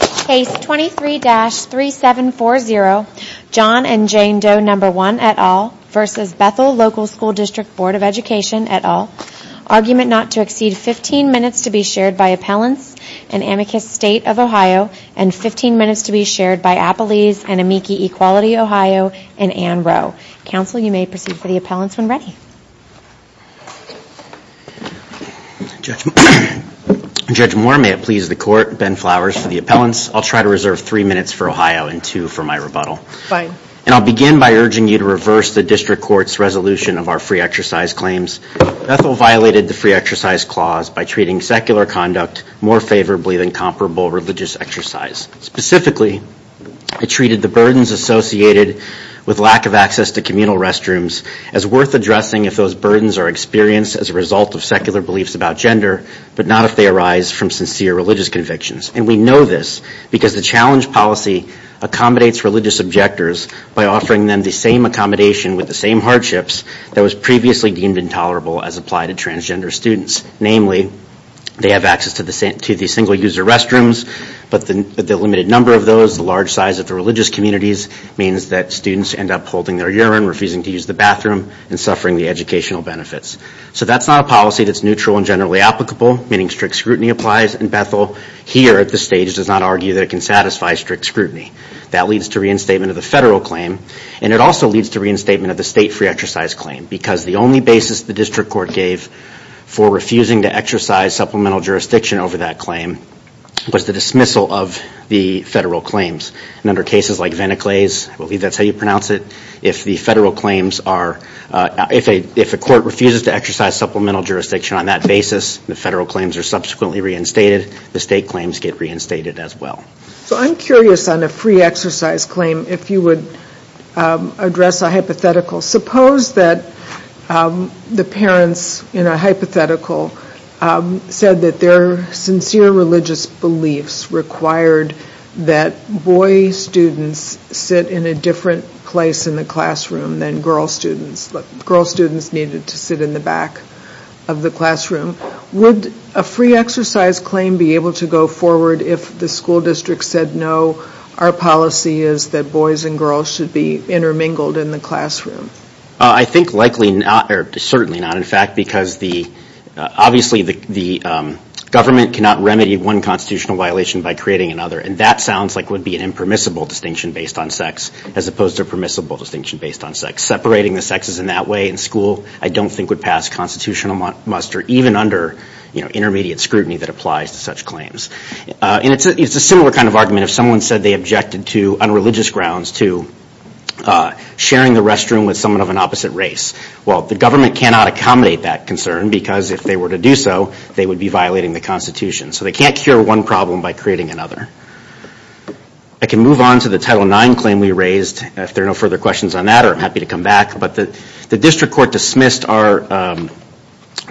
Case 23-3740, John and Jane Doe No1 v. Bethel Local Bd of Education et al., argument not to exceed 15 minutes to be shared by Appellants and Amicus State of Ohio and 15 minutes to be shared by Appalese and Amici Equality Ohio and Anne Rowe. Counsel you may proceed for the appellants when ready. Judge Moore, may it please the court, Ben Flowers for the appellants. I'll try to reserve three minutes for Ohio and two for my rebuttal. Fine. And I'll begin by urging you to reverse the district court's resolution of our free exercise claims. Bethel violated the free exercise clause by treating secular conduct more favorably than comparable religious exercise. Specifically, it treated the burdens associated with lack of access to communal restrooms as worth addressing if those burdens are experienced as a result of secular beliefs about gender, but not if they arise from sincere religious convictions. And we know this because the challenge policy accommodates religious objectors by offering them the same accommodation with the same hardships that was previously deemed intolerable as applied to transgender students. Namely, they have access to the single-user restrooms, but the limited number of those, the large size of the religious communities, means that students end up holding their urine, refusing to use the bathroom, and suffering the educational benefits. So that's not a policy that's neutral and generally applicable, meaning strict scrutiny applies. And Bethel, here at this stage, does not argue that it can satisfy strict scrutiny. That leads to reinstatement of the federal claim, and it also leads to reinstatement of the state free exercise claim. Because the only basis the district court gave for refusing to exercise supplemental jurisdiction over that claim was the dismissal of the federal claims. And in particular cases like Veneclay's, I believe that's how you pronounce it, if the federal claims are, if a court refuses to exercise supplemental jurisdiction on that basis, the federal claims are subsequently reinstated, the state claims get reinstated as well. So I'm curious on a free exercise claim, if you would address a hypothetical. Suppose that the parents in a hypothetical said that their sincere religious beliefs required that boy students sit in a different place in the classroom than girl students. Girl students needed to sit in the back of the classroom. Would a free exercise claim be able to go forward if the school district said no, our policy is that boys and girls should be intermingled in the classroom? I think likely not, or certainly not in fact, because obviously the government cannot remedy one constitutional violation by creating another. And that sounds like would be an impermissible distinction based on sex, as opposed to a permissible distinction based on sex. Separating the sexes in that way in school, I don't think would pass constitutional muster, even under intermediate scrutiny that applies to such claims. And it's a similar kind of argument if someone said they objected to, on religious grounds, to sharing the restroom with someone of an opposite race. Well the government cannot accommodate that concern, because if they were to do so, they would be violating the Constitution. So they can't cure one problem by creating another. I can move on to the Title IX claim we raised. If there are no further questions on that, I'm happy to come back. But the district court dismissed our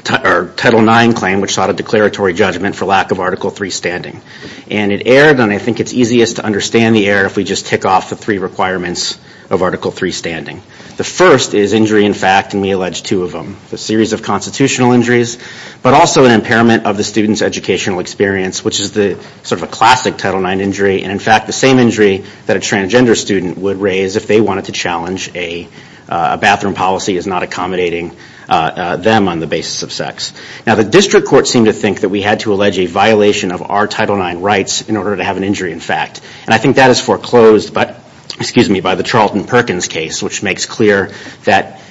Title IX claim, which sought a declaratory judgment for lack of Article III standing. And it erred, and I think it's easiest to understand the error if we just tick off the three requirements of Article III standing. The first is injury in fact, and we allege two of them. The series of constitutional injuries, but also an impairment of the student's educational experience, which is the sort of a classic Title IX injury. And in fact, the same injury that a transgender student would raise if they wanted to challenge a bathroom policy is not accommodating them on the basis of sex. Now the district court seemed to think that we had to allege a violation of our Title IX rights in order to have an injury in fact. And I think that is foreclosed, but, excuse me, by the Perkins case, which makes clear that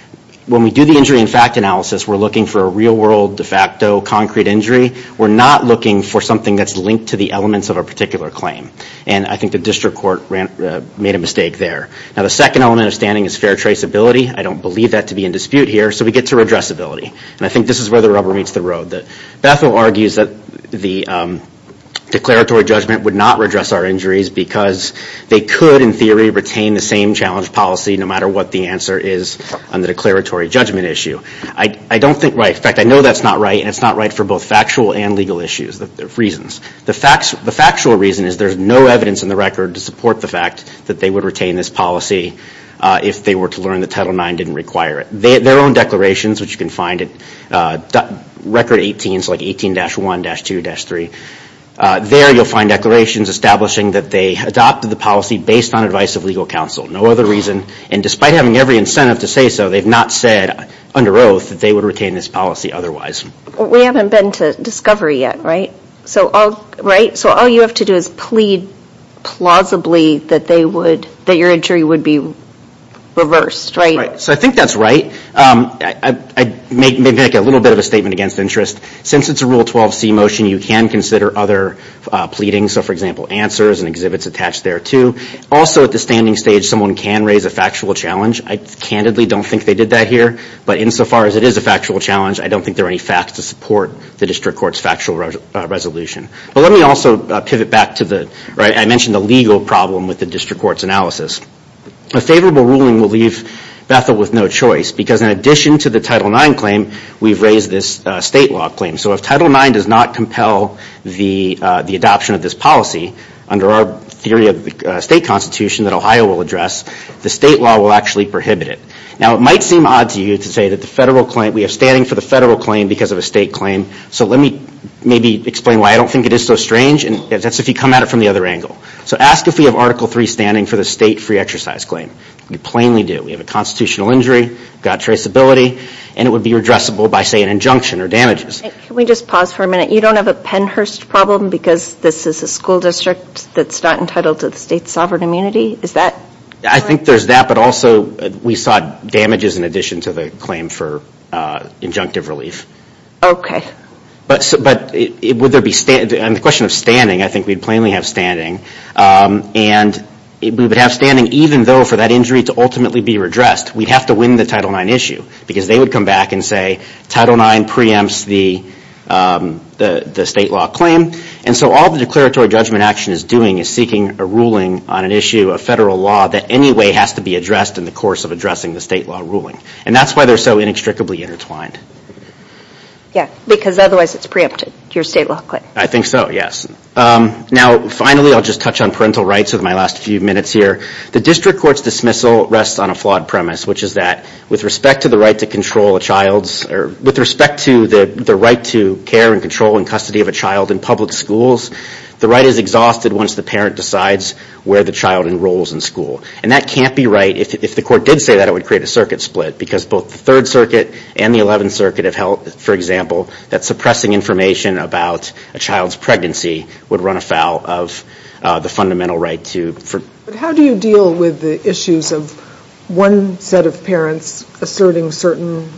when we do the injury in fact analysis, we're looking for a real world, de facto, concrete injury. We're not looking for something that's linked to the elements of a particular claim. And I think the district court made a mistake there. Now the second element of standing is fair traceability. I don't believe that to be in dispute here, so we get to redressability. And I think this is where the rubber meets the road. Bethel argues that the declaratory judgment would not redress our injuries because they could, in theory, retain the same challenge policy no matter what the answer is on the declaratory judgment issue. I don't think right. In fact, I know that's not right, and it's not right for both factual and legal issues of reasons. The factual reason is there's no evidence in the record to support the fact that they would retain this policy if they were to learn that Title IX didn't require it. Their own declarations, which you can find at Record 18, it's like 18-1, 18-2, 18-3. There you'll find declarations establishing that they adopted the policy based on advice of legal counsel. No other reason. And despite having every incentive to say so, they've not said under oath that they would retain this policy otherwise. We haven't been to discovery yet, right? So all you have to do is plead plausibly that they would, that your injury would be reversed, right? So I think that's right. I may make a little bit of a statement against interest. Since it's a Rule 12c motion, you can consider other pleadings. So for example, answers and exhibits attached there too. Also at the standing stage, someone can raise a factual challenge. I candidly don't think they did that here, but insofar as it is a factual challenge, I don't think there are any facts to support the District Court's factual resolution. But let me also pivot back to the, right, I mentioned the legal problem with the District Court's analysis. A favorable ruling will leave Bethel with no choice because in addition to the Title IX claim, we've raised this state law claim. So if Title IX does not compel the adoption of this policy under our theory of the state Constitution that Ohio will address, the state law will actually prohibit it. Now it might seem odd to you to say that the federal claim, we have standing for the federal claim because of a state claim. So let me maybe explain why I don't think it is so strange, and that's if you come at it from the other angle. So ask if we have Article 3 standing for the state free exercise claim. We plainly do. We have a constitutional injury, got traceability, and it would be addressable by say an injunction or damages. Can we just pause for a minute? You don't have a Pennhurst problem because this is a school district that's not entitled to the state's sovereign immunity? Is that? I think there's that, but also we sought damages in addition to the claim for injunctive relief. Okay. But would there be, and the question of standing, I think we'd plainly have standing. And we would have standing even though for that injury to ultimately be redressed, we'd have to win the Title IX issue because they would come back and say Title IX preempts the state law claim. And so all the declaratory judgment action is doing is seeking a ruling on an issue of federal law that anyway has to be addressed in the course of addressing the state law ruling. And that's why they're so inextricably intertwined. Yeah, because otherwise it's preempted, your state law claim. I think so, yes. Now finally I'll just touch on parental rights with my last few minutes here. The district court's dismissal rests on a flawed premise, which is that with respect to the right to control a child's, or with respect to the right to care and control and custody of a child in public schools, the right is exhausted once the parent decides where the child enrolls in school. And that can't be right, if the court did say that, it would create a circuit split. Because both the Third Circuit and the Eleventh Circuit have held, for example, that suppressing information about a child's pregnancy would run afoul of the fundamental right to. But how do you deal with the issues of one set of parents asserting certain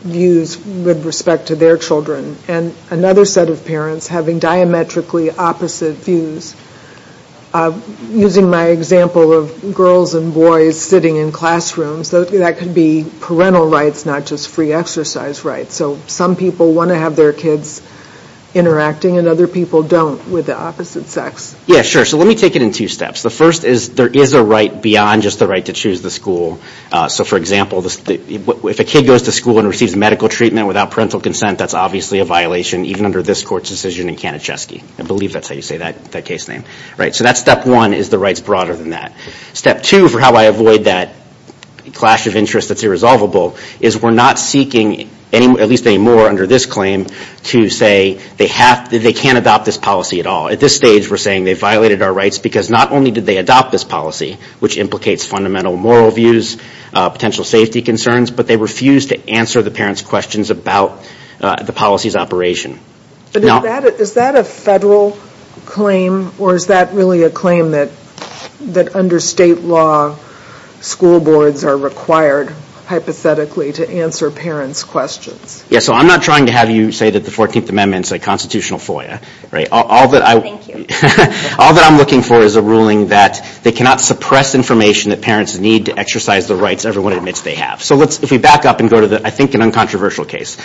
views with respect to their children, and another set of parents having diametrically opposite views? Using my example of girls and boys sitting in classrooms, that could be parental rights, not just free exercise rights. So some people want to have their kids interacting and other people don't with the opposite sex. Yeah, sure, so let me take it in two steps. The first is there is a right beyond just the right to choose the school. So for example, if a kid goes to school and receives medical treatment without parental consent, that's obviously a violation, even under this court's decision in Kanacheski. I believe that's how you say that case name. Right, so that's step one, is the rights broader than that. Step two, for how I avoid that clash of interest that's irresolvable, is we're not seeking, at least anymore under this claim, to say they can't adopt this policy at all. At this stage, we're saying they've violated our rights because not only did they adopt this policy, which implicates fundamental moral views, potential safety concerns, but they refuse to answer the parents' questions about the policy's operation. But is that a federal claim or is that really a claim that under state law, school boards are required hypothetically to answer parents' questions? Yes, so I'm not trying to have you say that the 14th Amendment's a constitutional FOIA. All that I'm looking for is a ruling that they cannot suppress information that parents need to exercise the rights everyone admits they have. So let's, if we back up and go to the, I think, an uncontroversial case.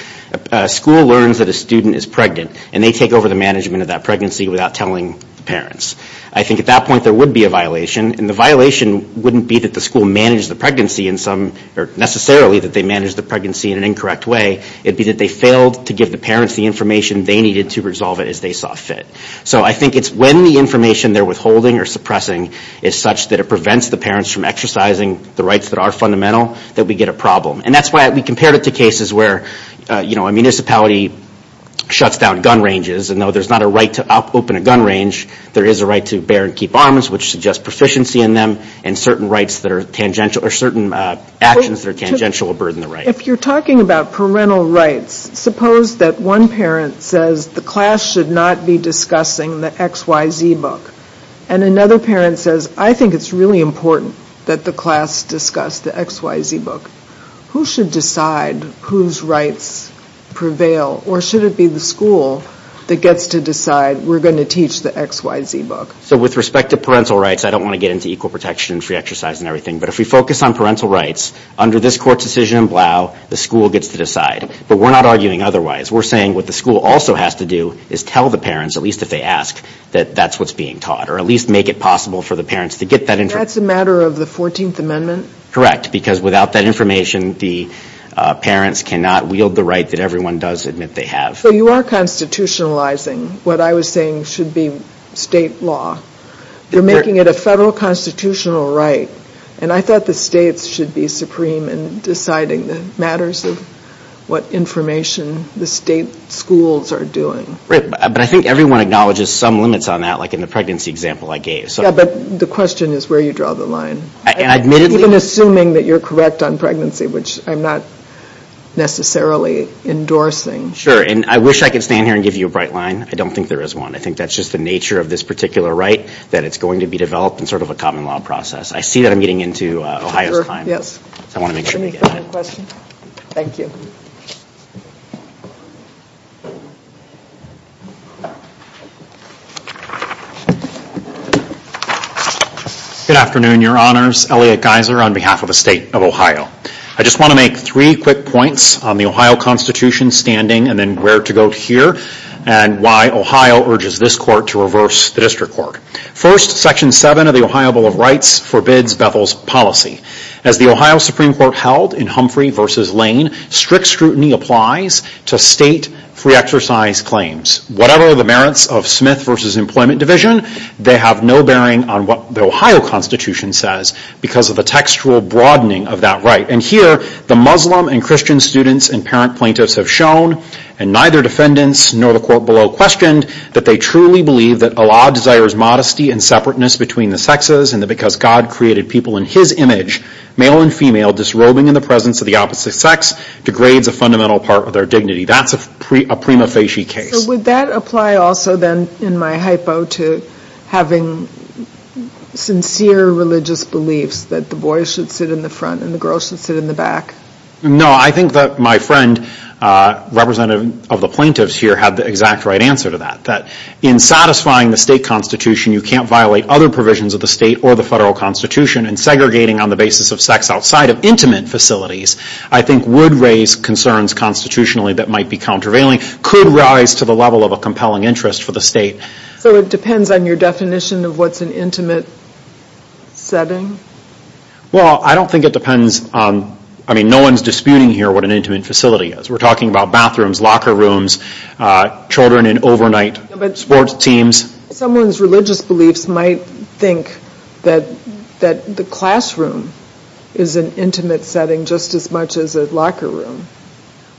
A school learns that a student is pregnant and they take over the management of that pregnancy without telling parents. I think at that point there would be a violation and the violation wouldn't be that the school managed the pregnancy in some, or necessarily that they managed the pregnancy in an incorrect way. It'd be that they failed to give the parents the information they needed to resolve it as they saw fit. So I think it's when the information they're withholding or suppressing is such that it prevents the parents from exercising the rights that are fundamental that we get a problem. And that's why we compared it to cases where, you know, a municipality shuts down gun ranges and though there's not a right to open a gun range, there is a right to bear and keep arms, which suggests proficiency in them, and certain rights that are tangential, or certain actions that are tangential will burden the right. If you're talking about parental rights, suppose that one parent says the class should not be discussing the XYZ book, and another parent says I think it's really important that the class discuss the XYZ book. Who should decide whose rights prevail, or should it be the school that gets to decide we're going to teach the XYZ book? So with respect to parental rights, I don't want to get into equal protection, free exercise, and everything, but if we focus on parental rights, under this court decision in Blau, the school gets to decide. But we're not arguing otherwise. We're saying what the school also has to do is tell the parents, at least if they ask, that that's what's being taught, or at least make it possible for the parents to get that information. That's a matter of the 14th Amendment? Correct, because without that information, the parents cannot wield the right that everyone does admit they have. So you are constitutionalizing what I was saying should be state law. You're making it a federal constitutional right, and I thought the states should be supreme in deciding the matters of what information the state schools are doing. Right, but I think everyone acknowledges some limits on that, like in the pregnancy example I gave. Yeah, but the question is where you draw the line. Admittedly. Even assuming that you're correct on pregnancy, which I'm not necessarily endorsing. Sure, and I wish I could stand here and give you a bright line. I don't think there is one. I think that's just the nature of this particular right, that it's going to be developed in sort of a common law process. I see that I'm getting into Ohio's time, so I want to make sure we get on it. Sure, yes. Do you have a question? Thank you. Good afternoon, Your Honors. Elliot Geiser on behalf of the state of Ohio. I just want to make three quick points on the Ohio Constitution standing, and then where to go here, and why Ohio urges this court to reverse the District Court. First, Section 7 of the Ohio Bill of Rights forbids Bethel's policy. As the Ohio Supreme Court held in Humphrey v. Lane, strict scrutiny applies to state free-exercise claims. Whatever the merits of Smith v. Employment Division, they have no bearing on what the Ohio Constitution says because of the textual broadening of that right. And here, the Muslim and Christian students and parent plaintiffs have shown, and neither defendants nor the court below questioned, that they truly believe that a law desires modesty and separateness between the sexes, and that because God created people in his image, male and female disrobing in the presence of the opposite sex, degrades a fundamental part of their dignity. That's a prima facie case. Would that apply also then, in my hypo, to having sincere religious beliefs that the boy should sit in the front and the girl should sit in the back? No, I think that my friend, representative of the plaintiffs here, had the exact right answer to that. That in satisfying the state constitution, you can't violate other provisions of the state or the federal constitution, and segregating on the basis of sex outside of intimate facilities, I think would raise concerns constitutionally that might be countervailing, could rise to the level of a compelling interest for the state. So it depends on your definition of what's an intimate setting? Well, I don't think it depends on, I mean, no one's disputing here what an intimate facility is. We're talking about bathrooms, locker rooms, children in overnight sports teams. Someone's religious beliefs might think that the classroom is an intimate setting just as much as a locker room.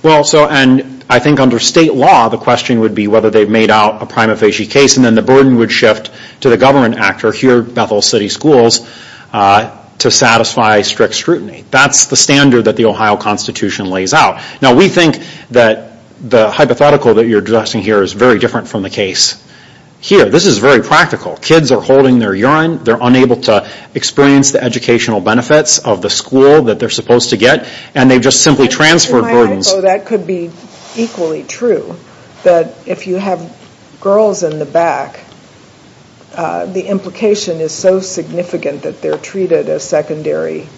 Well, so, and I think under state law, the question would be whether they've made out a prima facie case, and then the burden would shift to the government actor, here Bethel City Schools, to satisfy strict scrutiny. That's the standard that the Ohio Constitution lays out. Now, we think that the hypothetical that you're discussing here is very different from the case here. This is very practical. Kids are holding their urine, they're unable to experience the educational benefits of the school that they're supposed to get, and they've just simply transferred burdens. That could be equally true, that if you have girls in the back, the implication is so significant that they're treated as secondary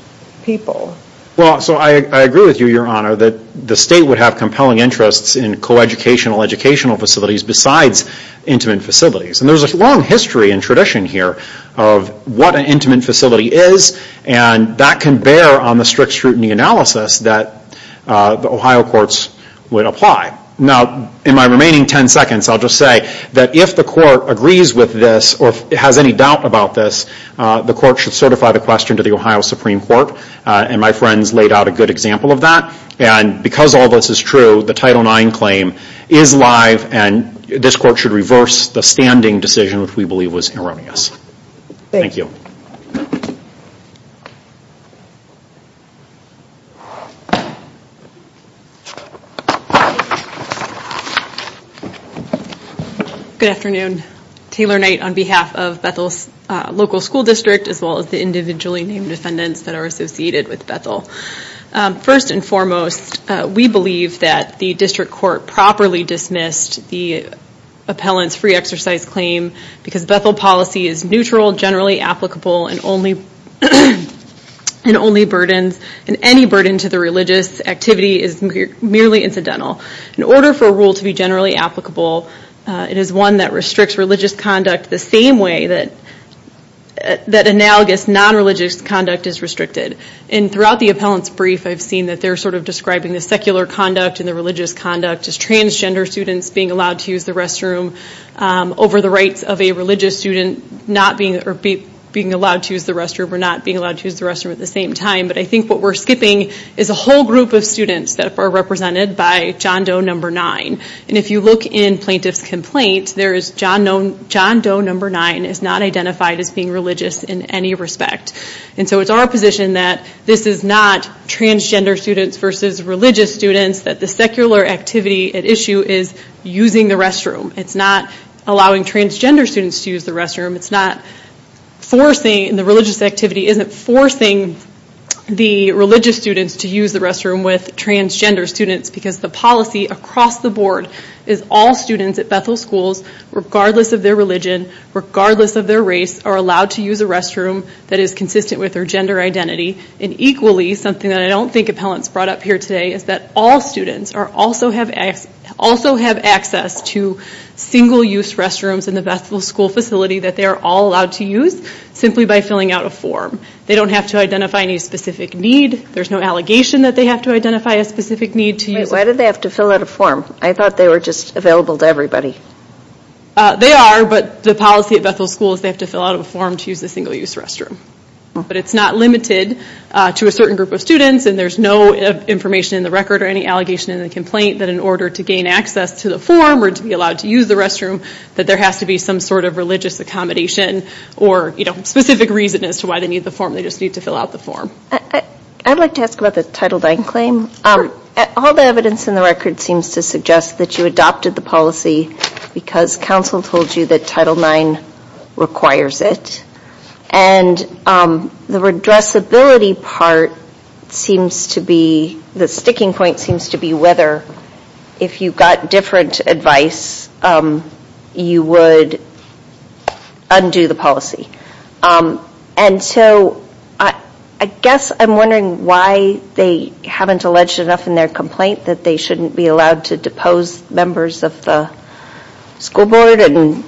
people. Well, so I agree with you, your honor, that the state would have compelling interests in low-educational educational facilities besides intimate facilities. And there's a long history and tradition here of what an intimate facility is, and that can bear on the strict scrutiny analysis that the Ohio courts would apply. Now, in my remaining 10 seconds, I'll just say that if the court agrees with this, or has any doubt about this, the court should certify the question to the Ohio Supreme Court, and my friends laid out a good example of that. And because all this is true, the Title IX claim is live, and this court should reverse the standing decision, which we believe was erroneous. Thank you. Good afternoon. Taylor Knight on behalf of Bethel's local school district, as well as the individually named defendants that are associated with Bethel. First and foremost, we believe that the district court properly dismissed the appellant's free exercise claim, because Bethel policy is neutral, generally applicable, and only burdens, and any burden to the religious activity is merely incidental. In order for a rule to be generally applicable, it is one that restricts religious conduct the same way that analogous non-religious conduct is restricted. And throughout the appellant's brief, I've seen that they're sort of describing the secular conduct and the religious conduct as transgender students being allowed to use the restroom over the rights of a religious student being allowed to use the restroom or not being allowed to use the restroom at the same time. But I think what we're skipping is a whole group of students that are represented by John Doe No. 9. And if you look in plaintiff's complaint, John Doe No. 9 is not identified as being religious in any respect. And so it's our position that this is not transgender students versus religious students, that the secular activity at issue is using the restroom. It's not allowing transgender students to use the restroom. It's not forcing, the religious activity isn't forcing the religious students to use the restroom with transgender students, because the policy across the board is all students at Bethel schools, regardless of their religion, regardless of their race, are allowed to use a restroom that is consistent with their gender identity. And equally, something that I don't think appellants brought up here today, is that all students also have access to single-use restrooms in the Bethel school facility that they are all allowed to use, simply by filling out a form. They don't have to identify any specific need. There's no allegation that they have to identify a specific need to use. Why did they have to fill out a form? I thought they were just available to everybody. They are, but the policy at Bethel school is they have to fill out a form to use the single-use restroom. But it's not limited to a certain group of students, and there's no information in the record or any allegation in the complaint that in order to gain access to the form or to be allowed to use the restroom, that there has to be some sort of religious accommodation or, you know, specific reason as to why they need the form. They just need to fill out the form. I'd like to ask about the Title IX claim. All the evidence in the record seems to suggest that you adopted the policy because counsel told you that Title IX requires it. And the redressability part seems to be, the sticking point seems to be, whether if you got different advice you would undo the policy. And so I guess I'm wondering why they haven't alleged enough in their complaint that they shouldn't be allowed to depose members of the school board and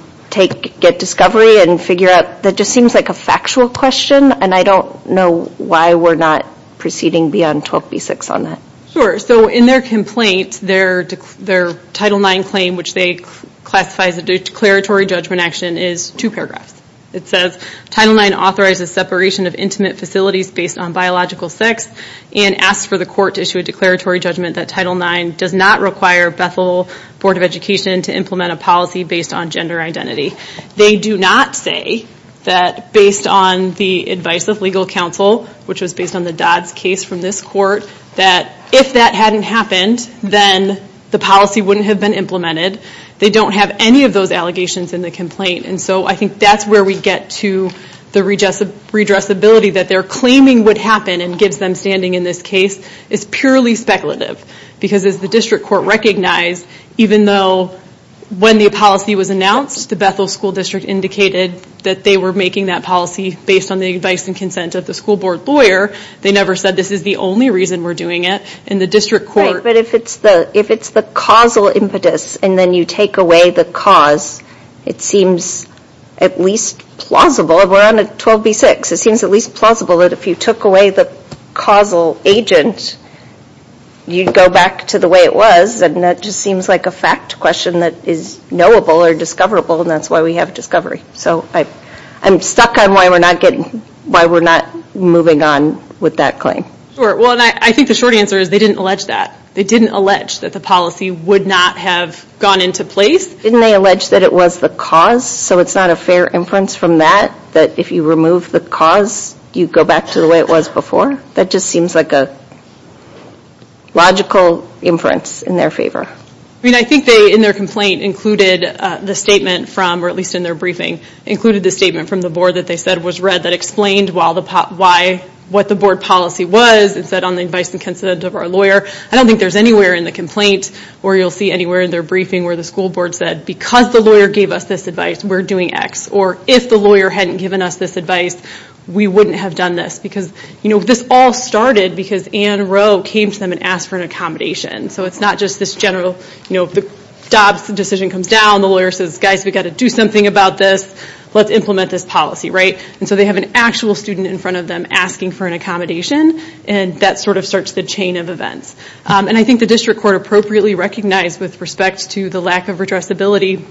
get discovery and figure out. That just seems like a factual question, and I don't know why we're not proceeding beyond 12b-6 on that. Sure, so in their complaint, their Title IX claim, which they classify as a declaratory judgment action, is two paragraphs. It says, Title IX authorizes separation of intimate facilities based on biological sex and asks for the court to issue a declaratory judgment that Title IX does not require Bethel Board of Education to implement a policy based on gender identity. They do not say that based on the advice of legal counsel, which was based on the Dodds case from this court, that if that hadn't happened then the policy wouldn't have been implemented. They don't have any of those allegations in the complaint, and so I think that's where we get to the redressability that they're claiming would happen and gives them standing in this case is purely speculative, because as the district court recognized, even though when the policy was announced the Bethel School District indicated that they were making that policy based on the advice and consent of the school board lawyer, they never said this is the only reason we're doing it, and the district court... Right, but if it's the causal impetus and then you take away the cause, it seems at least plausible. We're on a 12b6. It seems at least plausible that if you took away the causal agent, you'd go back to the way it was, and that just seems like a fact question that is knowable or discoverable, and that's why we have discovery. So I'm stuck on why we're not getting... why we're not moving on with that claim. Well, I think the short answer is they didn't allege that. They didn't allege that the policy would not have gone into place. Didn't they allege that it was the cause, so it's not a fair inference from that, that if you remove the cause, you go back to the way it was before? That just seems like a logical inference in their favor. I mean, I think they, in their complaint, included the statement from, or at least in their briefing, included the statement from the board that they said was read that explained why... what the board policy was. It said on the advice and consent of our lawyer. I don't think there's anywhere in the complaint, or you'll see anywhere in their briefing, where the school board said, because the lawyer gave us this advice, we're doing X. Or, if the lawyer hadn't given us this advice, we wouldn't have done this. Because, you know, this all started because Anne Rowe came to them and asked for an accommodation. So it's not just this general, you know, the Dobbs decision comes down, the lawyer says, guys, we've got to do something about this, let's implement this policy, right? And so they have an actual student in front of them asking for an accommodation, and that sort of starts the chain of events. And I think the district court appropriately recognized, with respect to the lack of addressability,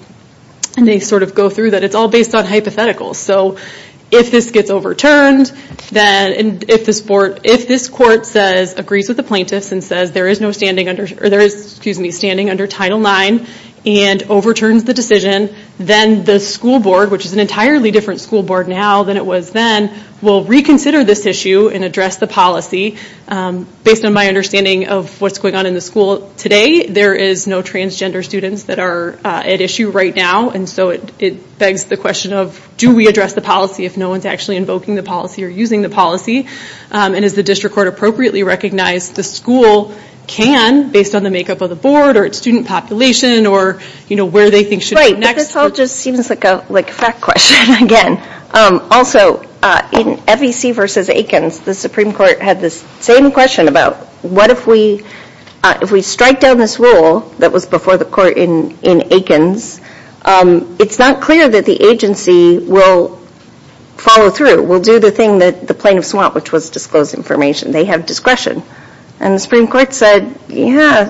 and they sort of go through that, it's all based on hypotheticals. So if this gets overturned, then, and if this board, if this court says, agrees with the plaintiffs, and says there is no standing under, or there is, excuse me, standing under Title IX, and overturns the decision, then the school board, which is an entirely different school board now than it was then, will reconsider this issue and address the policy, based on my understanding of what's going on in the school today. There is no transgender students that are at issue right now, and so it begs the question of, do we address the policy if no one's actually invoking the policy, or using the policy? And as the district court appropriately recognized, the school can, based on the makeup of the board, or its student population, or, you know, where they think should be next. Right, but this all just seems like a fact question, again. Also, in FEC versus Aikens, the Supreme Court had this same question about, what if we, if we strike down this rule that was before the court in Aikens, it's not clear that the agency will follow through, will do the thing that the plaintiffs want, which was disclose information. They have discretion. And the Supreme Court said, yeah,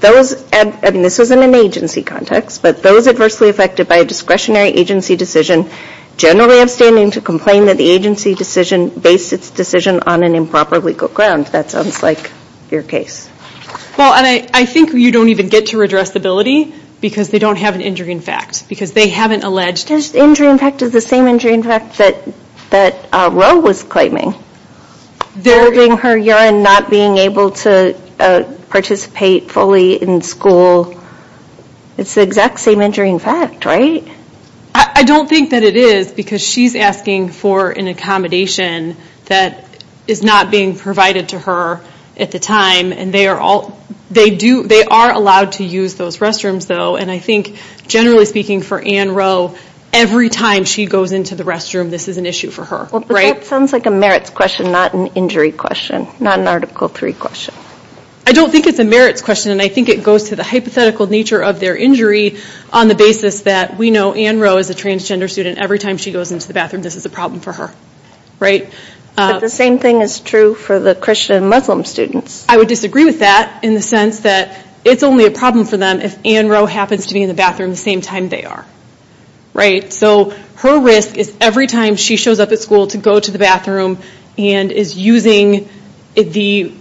those, I mean, this isn't an agency context, but those adversely affected by a discretionary agency decision generally have standing to complain that the agency decision based its decision on an improper legal ground. That sounds like your case. Well, and I think you don't even get to redress the ability, because they don't have an injury in fact, because they haven't alleged it. Injury in fact is the same injury in fact that Roe was claiming. Burying her urine, not being able to participate fully in school, it's the exact same injury in fact, right? I don't think that it is, because she's asking for an accommodation that is not being provided to her at the time, and they are all, they do, they are allowed to use those restrooms though, and I think generally speaking for Anne Roe, every time she goes into the restroom, this is an issue for her, right? That sounds like a merits question, not an injury question, not an Article 3 question. I don't think it's a merits question, and I think it goes to the hypothetical nature of their injury on the basis that we know Anne Roe is a transgender student. Every time she goes into the bathroom, this is a problem for her, right? The same thing is true for the Christian and Muslim students. I would disagree with that in the sense that it's only a problem for them if Anne Roe happens to be in the bathroom the same time they are, right? So her risk is every time she shows up at school to go to the bathroom and is using the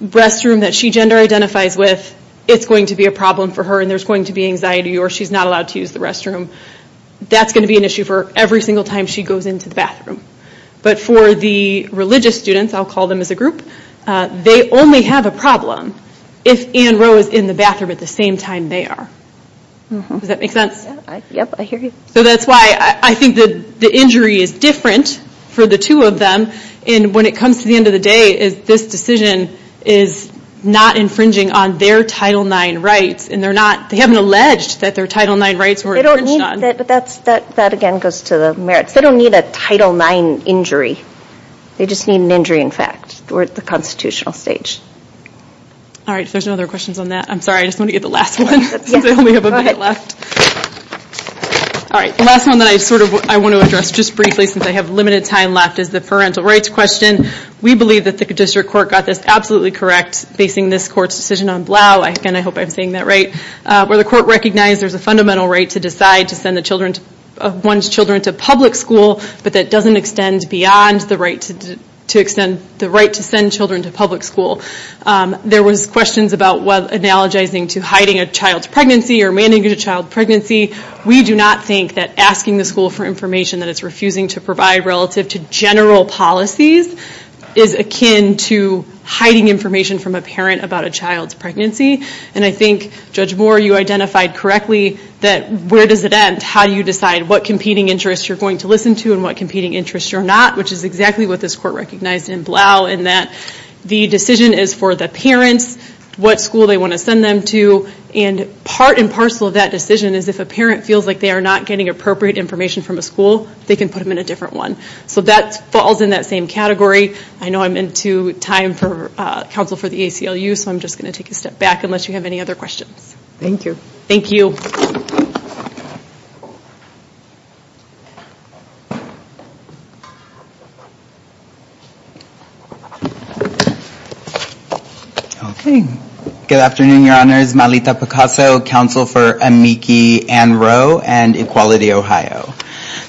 restroom that she gender identifies with, it's going to be a problem for her and there's going to be anxiety or she's not allowed to use the restroom. That's going to be an issue for every single time she goes into the bathroom. But for the religious students, I'll call them as a group, they only have a problem if Anne Roe is in the bathroom at the same time they are. Does that make sense? So that's why I think that the injury is different for the two of them and when it comes to the end of the day is this decision is not infringing on their Title IX rights and they're not, they haven't alleged that their Title IX rights were infringed on. That again goes to the merits. They don't need a Title IX injury. They just need an injury in fact. We're at the constitutional stage. All right, if there's no other questions on that, I'm sorry, I just want to get the last one since I only have a minute left. All right, the last one that I sort of want to address just briefly since I have limited time left is the parental rights question. We believe that the district court got this absolutely correct basing this court's decision on Blau. Again, I hope I'm saying that right. Where the court recognized there's a fundamental right to decide to send the children, one's to public school, but that doesn't extend beyond the right to extend the right to send children to public school. There was questions about what analogizing to hiding a child's pregnancy or manning a child's pregnancy. We do not think that asking the school for information that it's refusing to provide relative to general policies is akin to hiding information from a parent about a child's pregnancy and I think Judge Moore, you identified correctly that where does it end? How do you decide what competing interests you're going to listen to and what competing interests you're not, which is exactly what this court recognized in Blau in that the decision is for the parents, what school they want to send them to, and part and parcel of that decision is if a parent feels like they are not getting appropriate information from a school, they can put them in a different one. So that falls in that same category. I know I'm into time for counsel for the ACLU, so I'm just going to take a step back unless you have any other questions. Thank you. Thank you. Okay, good afternoon, Your Honors. Malita Picasso, counsel for Amici-Ann Rowe and Equality Ohio.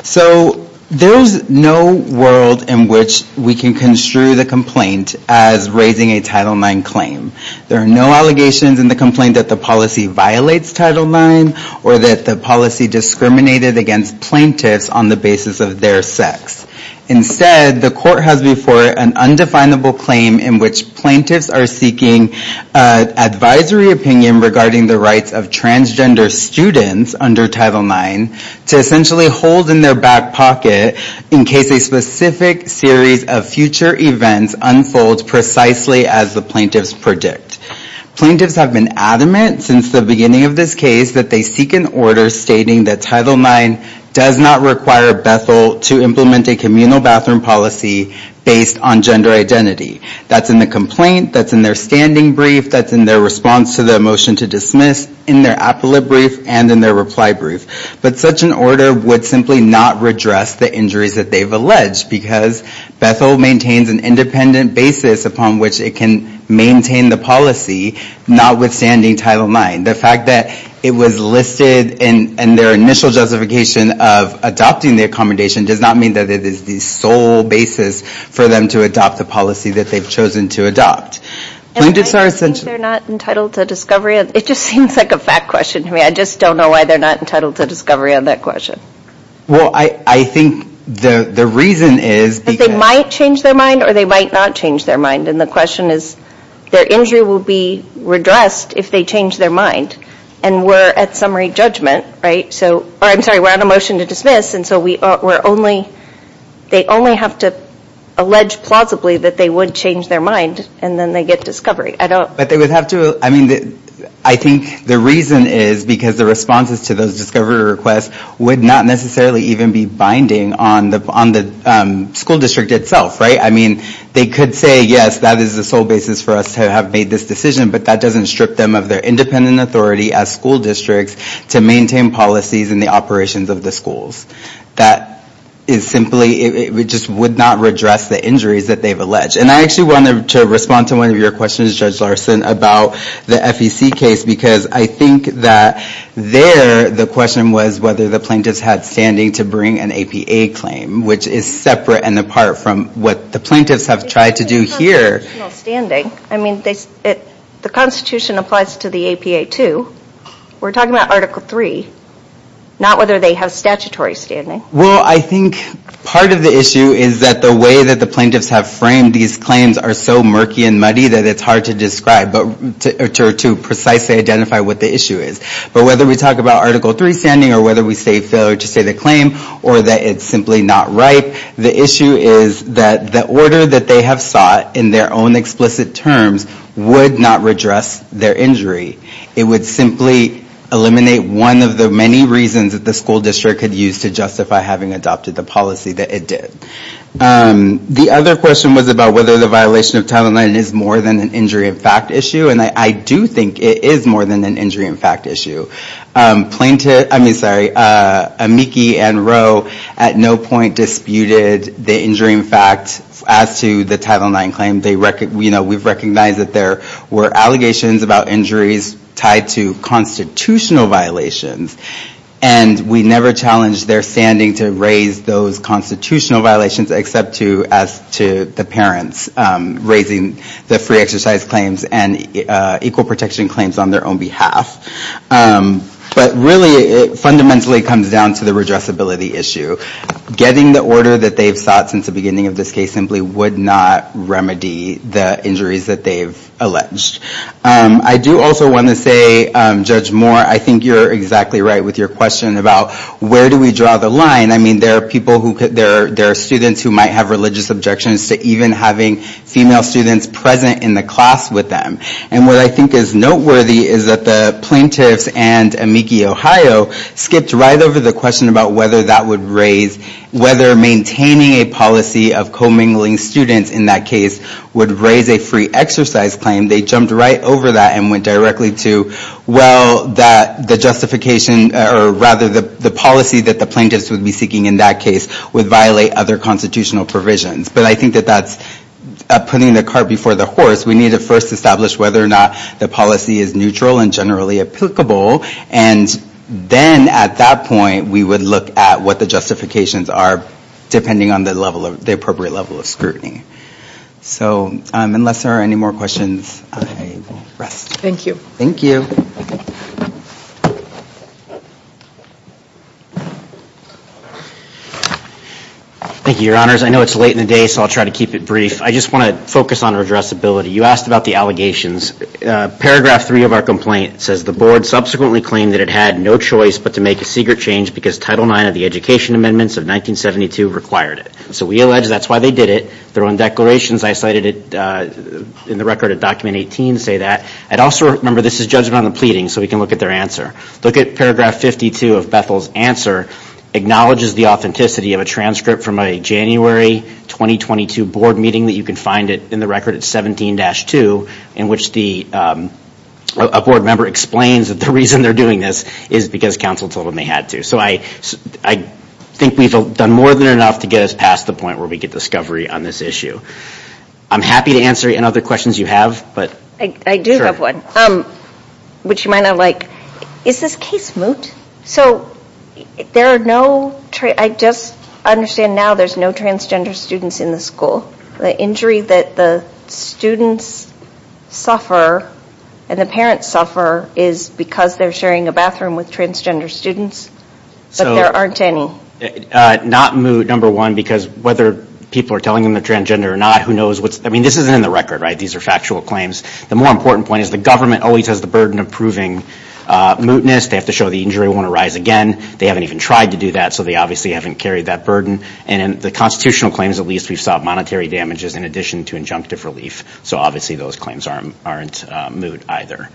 So there's no world in which we can construe the complaint as raising a Title IX claim. There are no allegations in the complaint that the policy violates Title IX or that the policy discriminated against plaintiffs on the basis of their sex. Instead, the court has before it an undefinable claim in which plaintiffs are seeking advisory opinion regarding the rights of transgender students under Title IX to essentially hold in their back pocket in case a specific series of future events unfolds precisely as the plaintiffs predict. Plaintiffs have been adamant since the beginning of this case that they seek an order stating that Title IX does not require Bethel to implement a communal bathroom policy based on gender identity. That's in the complaint, that's in their standing brief, that's in their response to the motion to dismiss, in their appellate brief, and in their reply brief. But such an order would simply not redress the injuries that they've alleged because Bethel maintains an independent basis upon which it can maintain the policy notwithstanding Title IX. The fact that it was listed in their initial justification of adopting the accommodation does not mean that it is the sole basis for them to adopt the policy that they've chosen to adopt. Plaintiffs are essentially not entitled to discovery. It just seems like a fact question to me. I just don't know why they're not entitled to discovery on that question. Well, I think the reason is because they might change their mind or they might not change their mind. And the question is their injury will be redressed if they change their mind. And we're at summary judgment, right? So, or I'm sorry, we're on a motion to dismiss and so we're only, they only have to allege plausibly that they would change their mind and then they get discovery. I don't. But they would have to, I mean, I think the reason is because the responses to those discovery requests would not necessarily even be binding on the school district itself, right? I mean, they could say, yes, that is the sole basis for us to have made this decision, but that doesn't strip them of their independent authority as school districts to maintain policies and the operations of the schools. That is simply, it just would not redress the injuries that they've alleged. And I actually wanted to respond to one of your questions, Judge Larson, about the FEC case because I think that there the question was whether the plaintiffs had standing to bring an APA claim, which is separate and apart from what the plaintiffs have tried to do here. It's not standing. I mean, the Constitution applies to the APA too. We're talking about Article 3, not whether they have statutory standing. Well, I think part of the issue is that the way that the plaintiffs have framed these claims are so murky and muddy that it's hard to describe or to precisely identify what the issue is. But whether we talk about Article 3 standing or whether we say failure to state a claim or that it's simply not right, the issue is that the order that they have sought in their own explicit terms would not redress their injury. It would simply eliminate one of the many reasons that the school district could use to justify having adopted the policy that it did. The other question was about whether the violation of Title IX is more than an injury in fact issue, and I do think it is more than an injury in fact issue. Amiki and Roe at no point disputed the injury in fact as to the Title IX claim. We've recognized that there were allegations about injuries tied to constitutional violations, and we never challenged their standing to raise those constitutional violations except to the parents raising the free exercise claims and equal protection claims on their own behalf. But really it fundamentally comes down to the redressability issue. Getting the order that they've sought since the beginning of this case simply would not remedy the injuries that they've alleged. I do also want to say, Judge Moore, I think you're exactly right with your question about where do we draw the line. I mean there are people who could, there are students who might have religious objections to even having female students present in the class with them. And what I think is noteworthy is that the plaintiffs and Amiki Ohio skipped right over the question about whether that would raise, whether maintaining a policy of co-mingling students in that case would raise a free exercise claim. They jumped right over that and went directly to, well that the justification or rather the policy that the plaintiffs would be seeking in that case would violate other constitutional provisions. But I think that that's putting the cart before the horse. We need to first establish whether or not the policy is neutral and generally applicable, and then at that point we would look at what the justifications are depending on the level of, the appropriate level of scrutiny. So unless there are any more questions, I will rest. Thank you. Thank you. Thank you, your honors. I know it's late in the day, so I'll try to keep it brief. I just want to focus on addressability. You asked about the allegations. Paragraph 3 of our complaint says the board subsequently claimed that it had no choice but to make a secret change because Title IX of the Education Amendments of 1972 required it. So we allege that's why they did it. Their own declarations, I cited it in the record of Document 18, say that. I'd also remember this is judgment on the pleading, so we can look at their answer. Look at paragraph 52 of Bethel's answer, acknowledges the authenticity of a transcript from a January 2022 board meeting that you can find it in the record at 17-2, in which a board member explains that the reason they're doing this is because counsel told them they had to. So I think we've done more than enough to get us past the point where we get discovery on this issue. I'm happy to answer any other questions you have. I do have one, which you might not like. Is this case moot? So there are no, I just understand now there's no transgender students in the school. The injury that the students suffer and the parents suffer is because they're sharing a bathroom with transgender students, but there aren't any. Not moot, number one, because whether people are telling them they're transgender or not, who knows what's, I mean this isn't in the record, right? These are factual claims. The more important point is the government always has the burden of proving mootness. They have to show the injury won't arise again. They haven't even tried to do that, so they obviously haven't carried that burden. And in the constitutional claims, at least, we've sought monetary damages in addition to injunctive relief. So obviously those claims aren't moot either.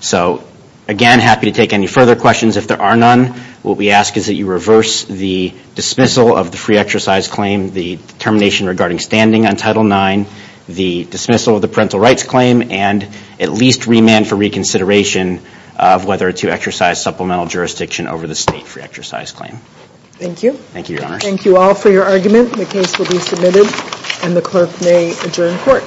So again, happy to take any further questions if there are none. What we ask is that you reverse the dismissal of the free exercise claim, the termination regarding standing on Title IX, the dismissal of parental rights claim, and at least remand for reconsideration of whether to exercise supplemental jurisdiction over the state free exercise claim. Thank you. Thank you all for your argument. The case will be submitted and the clerk may adjourn court.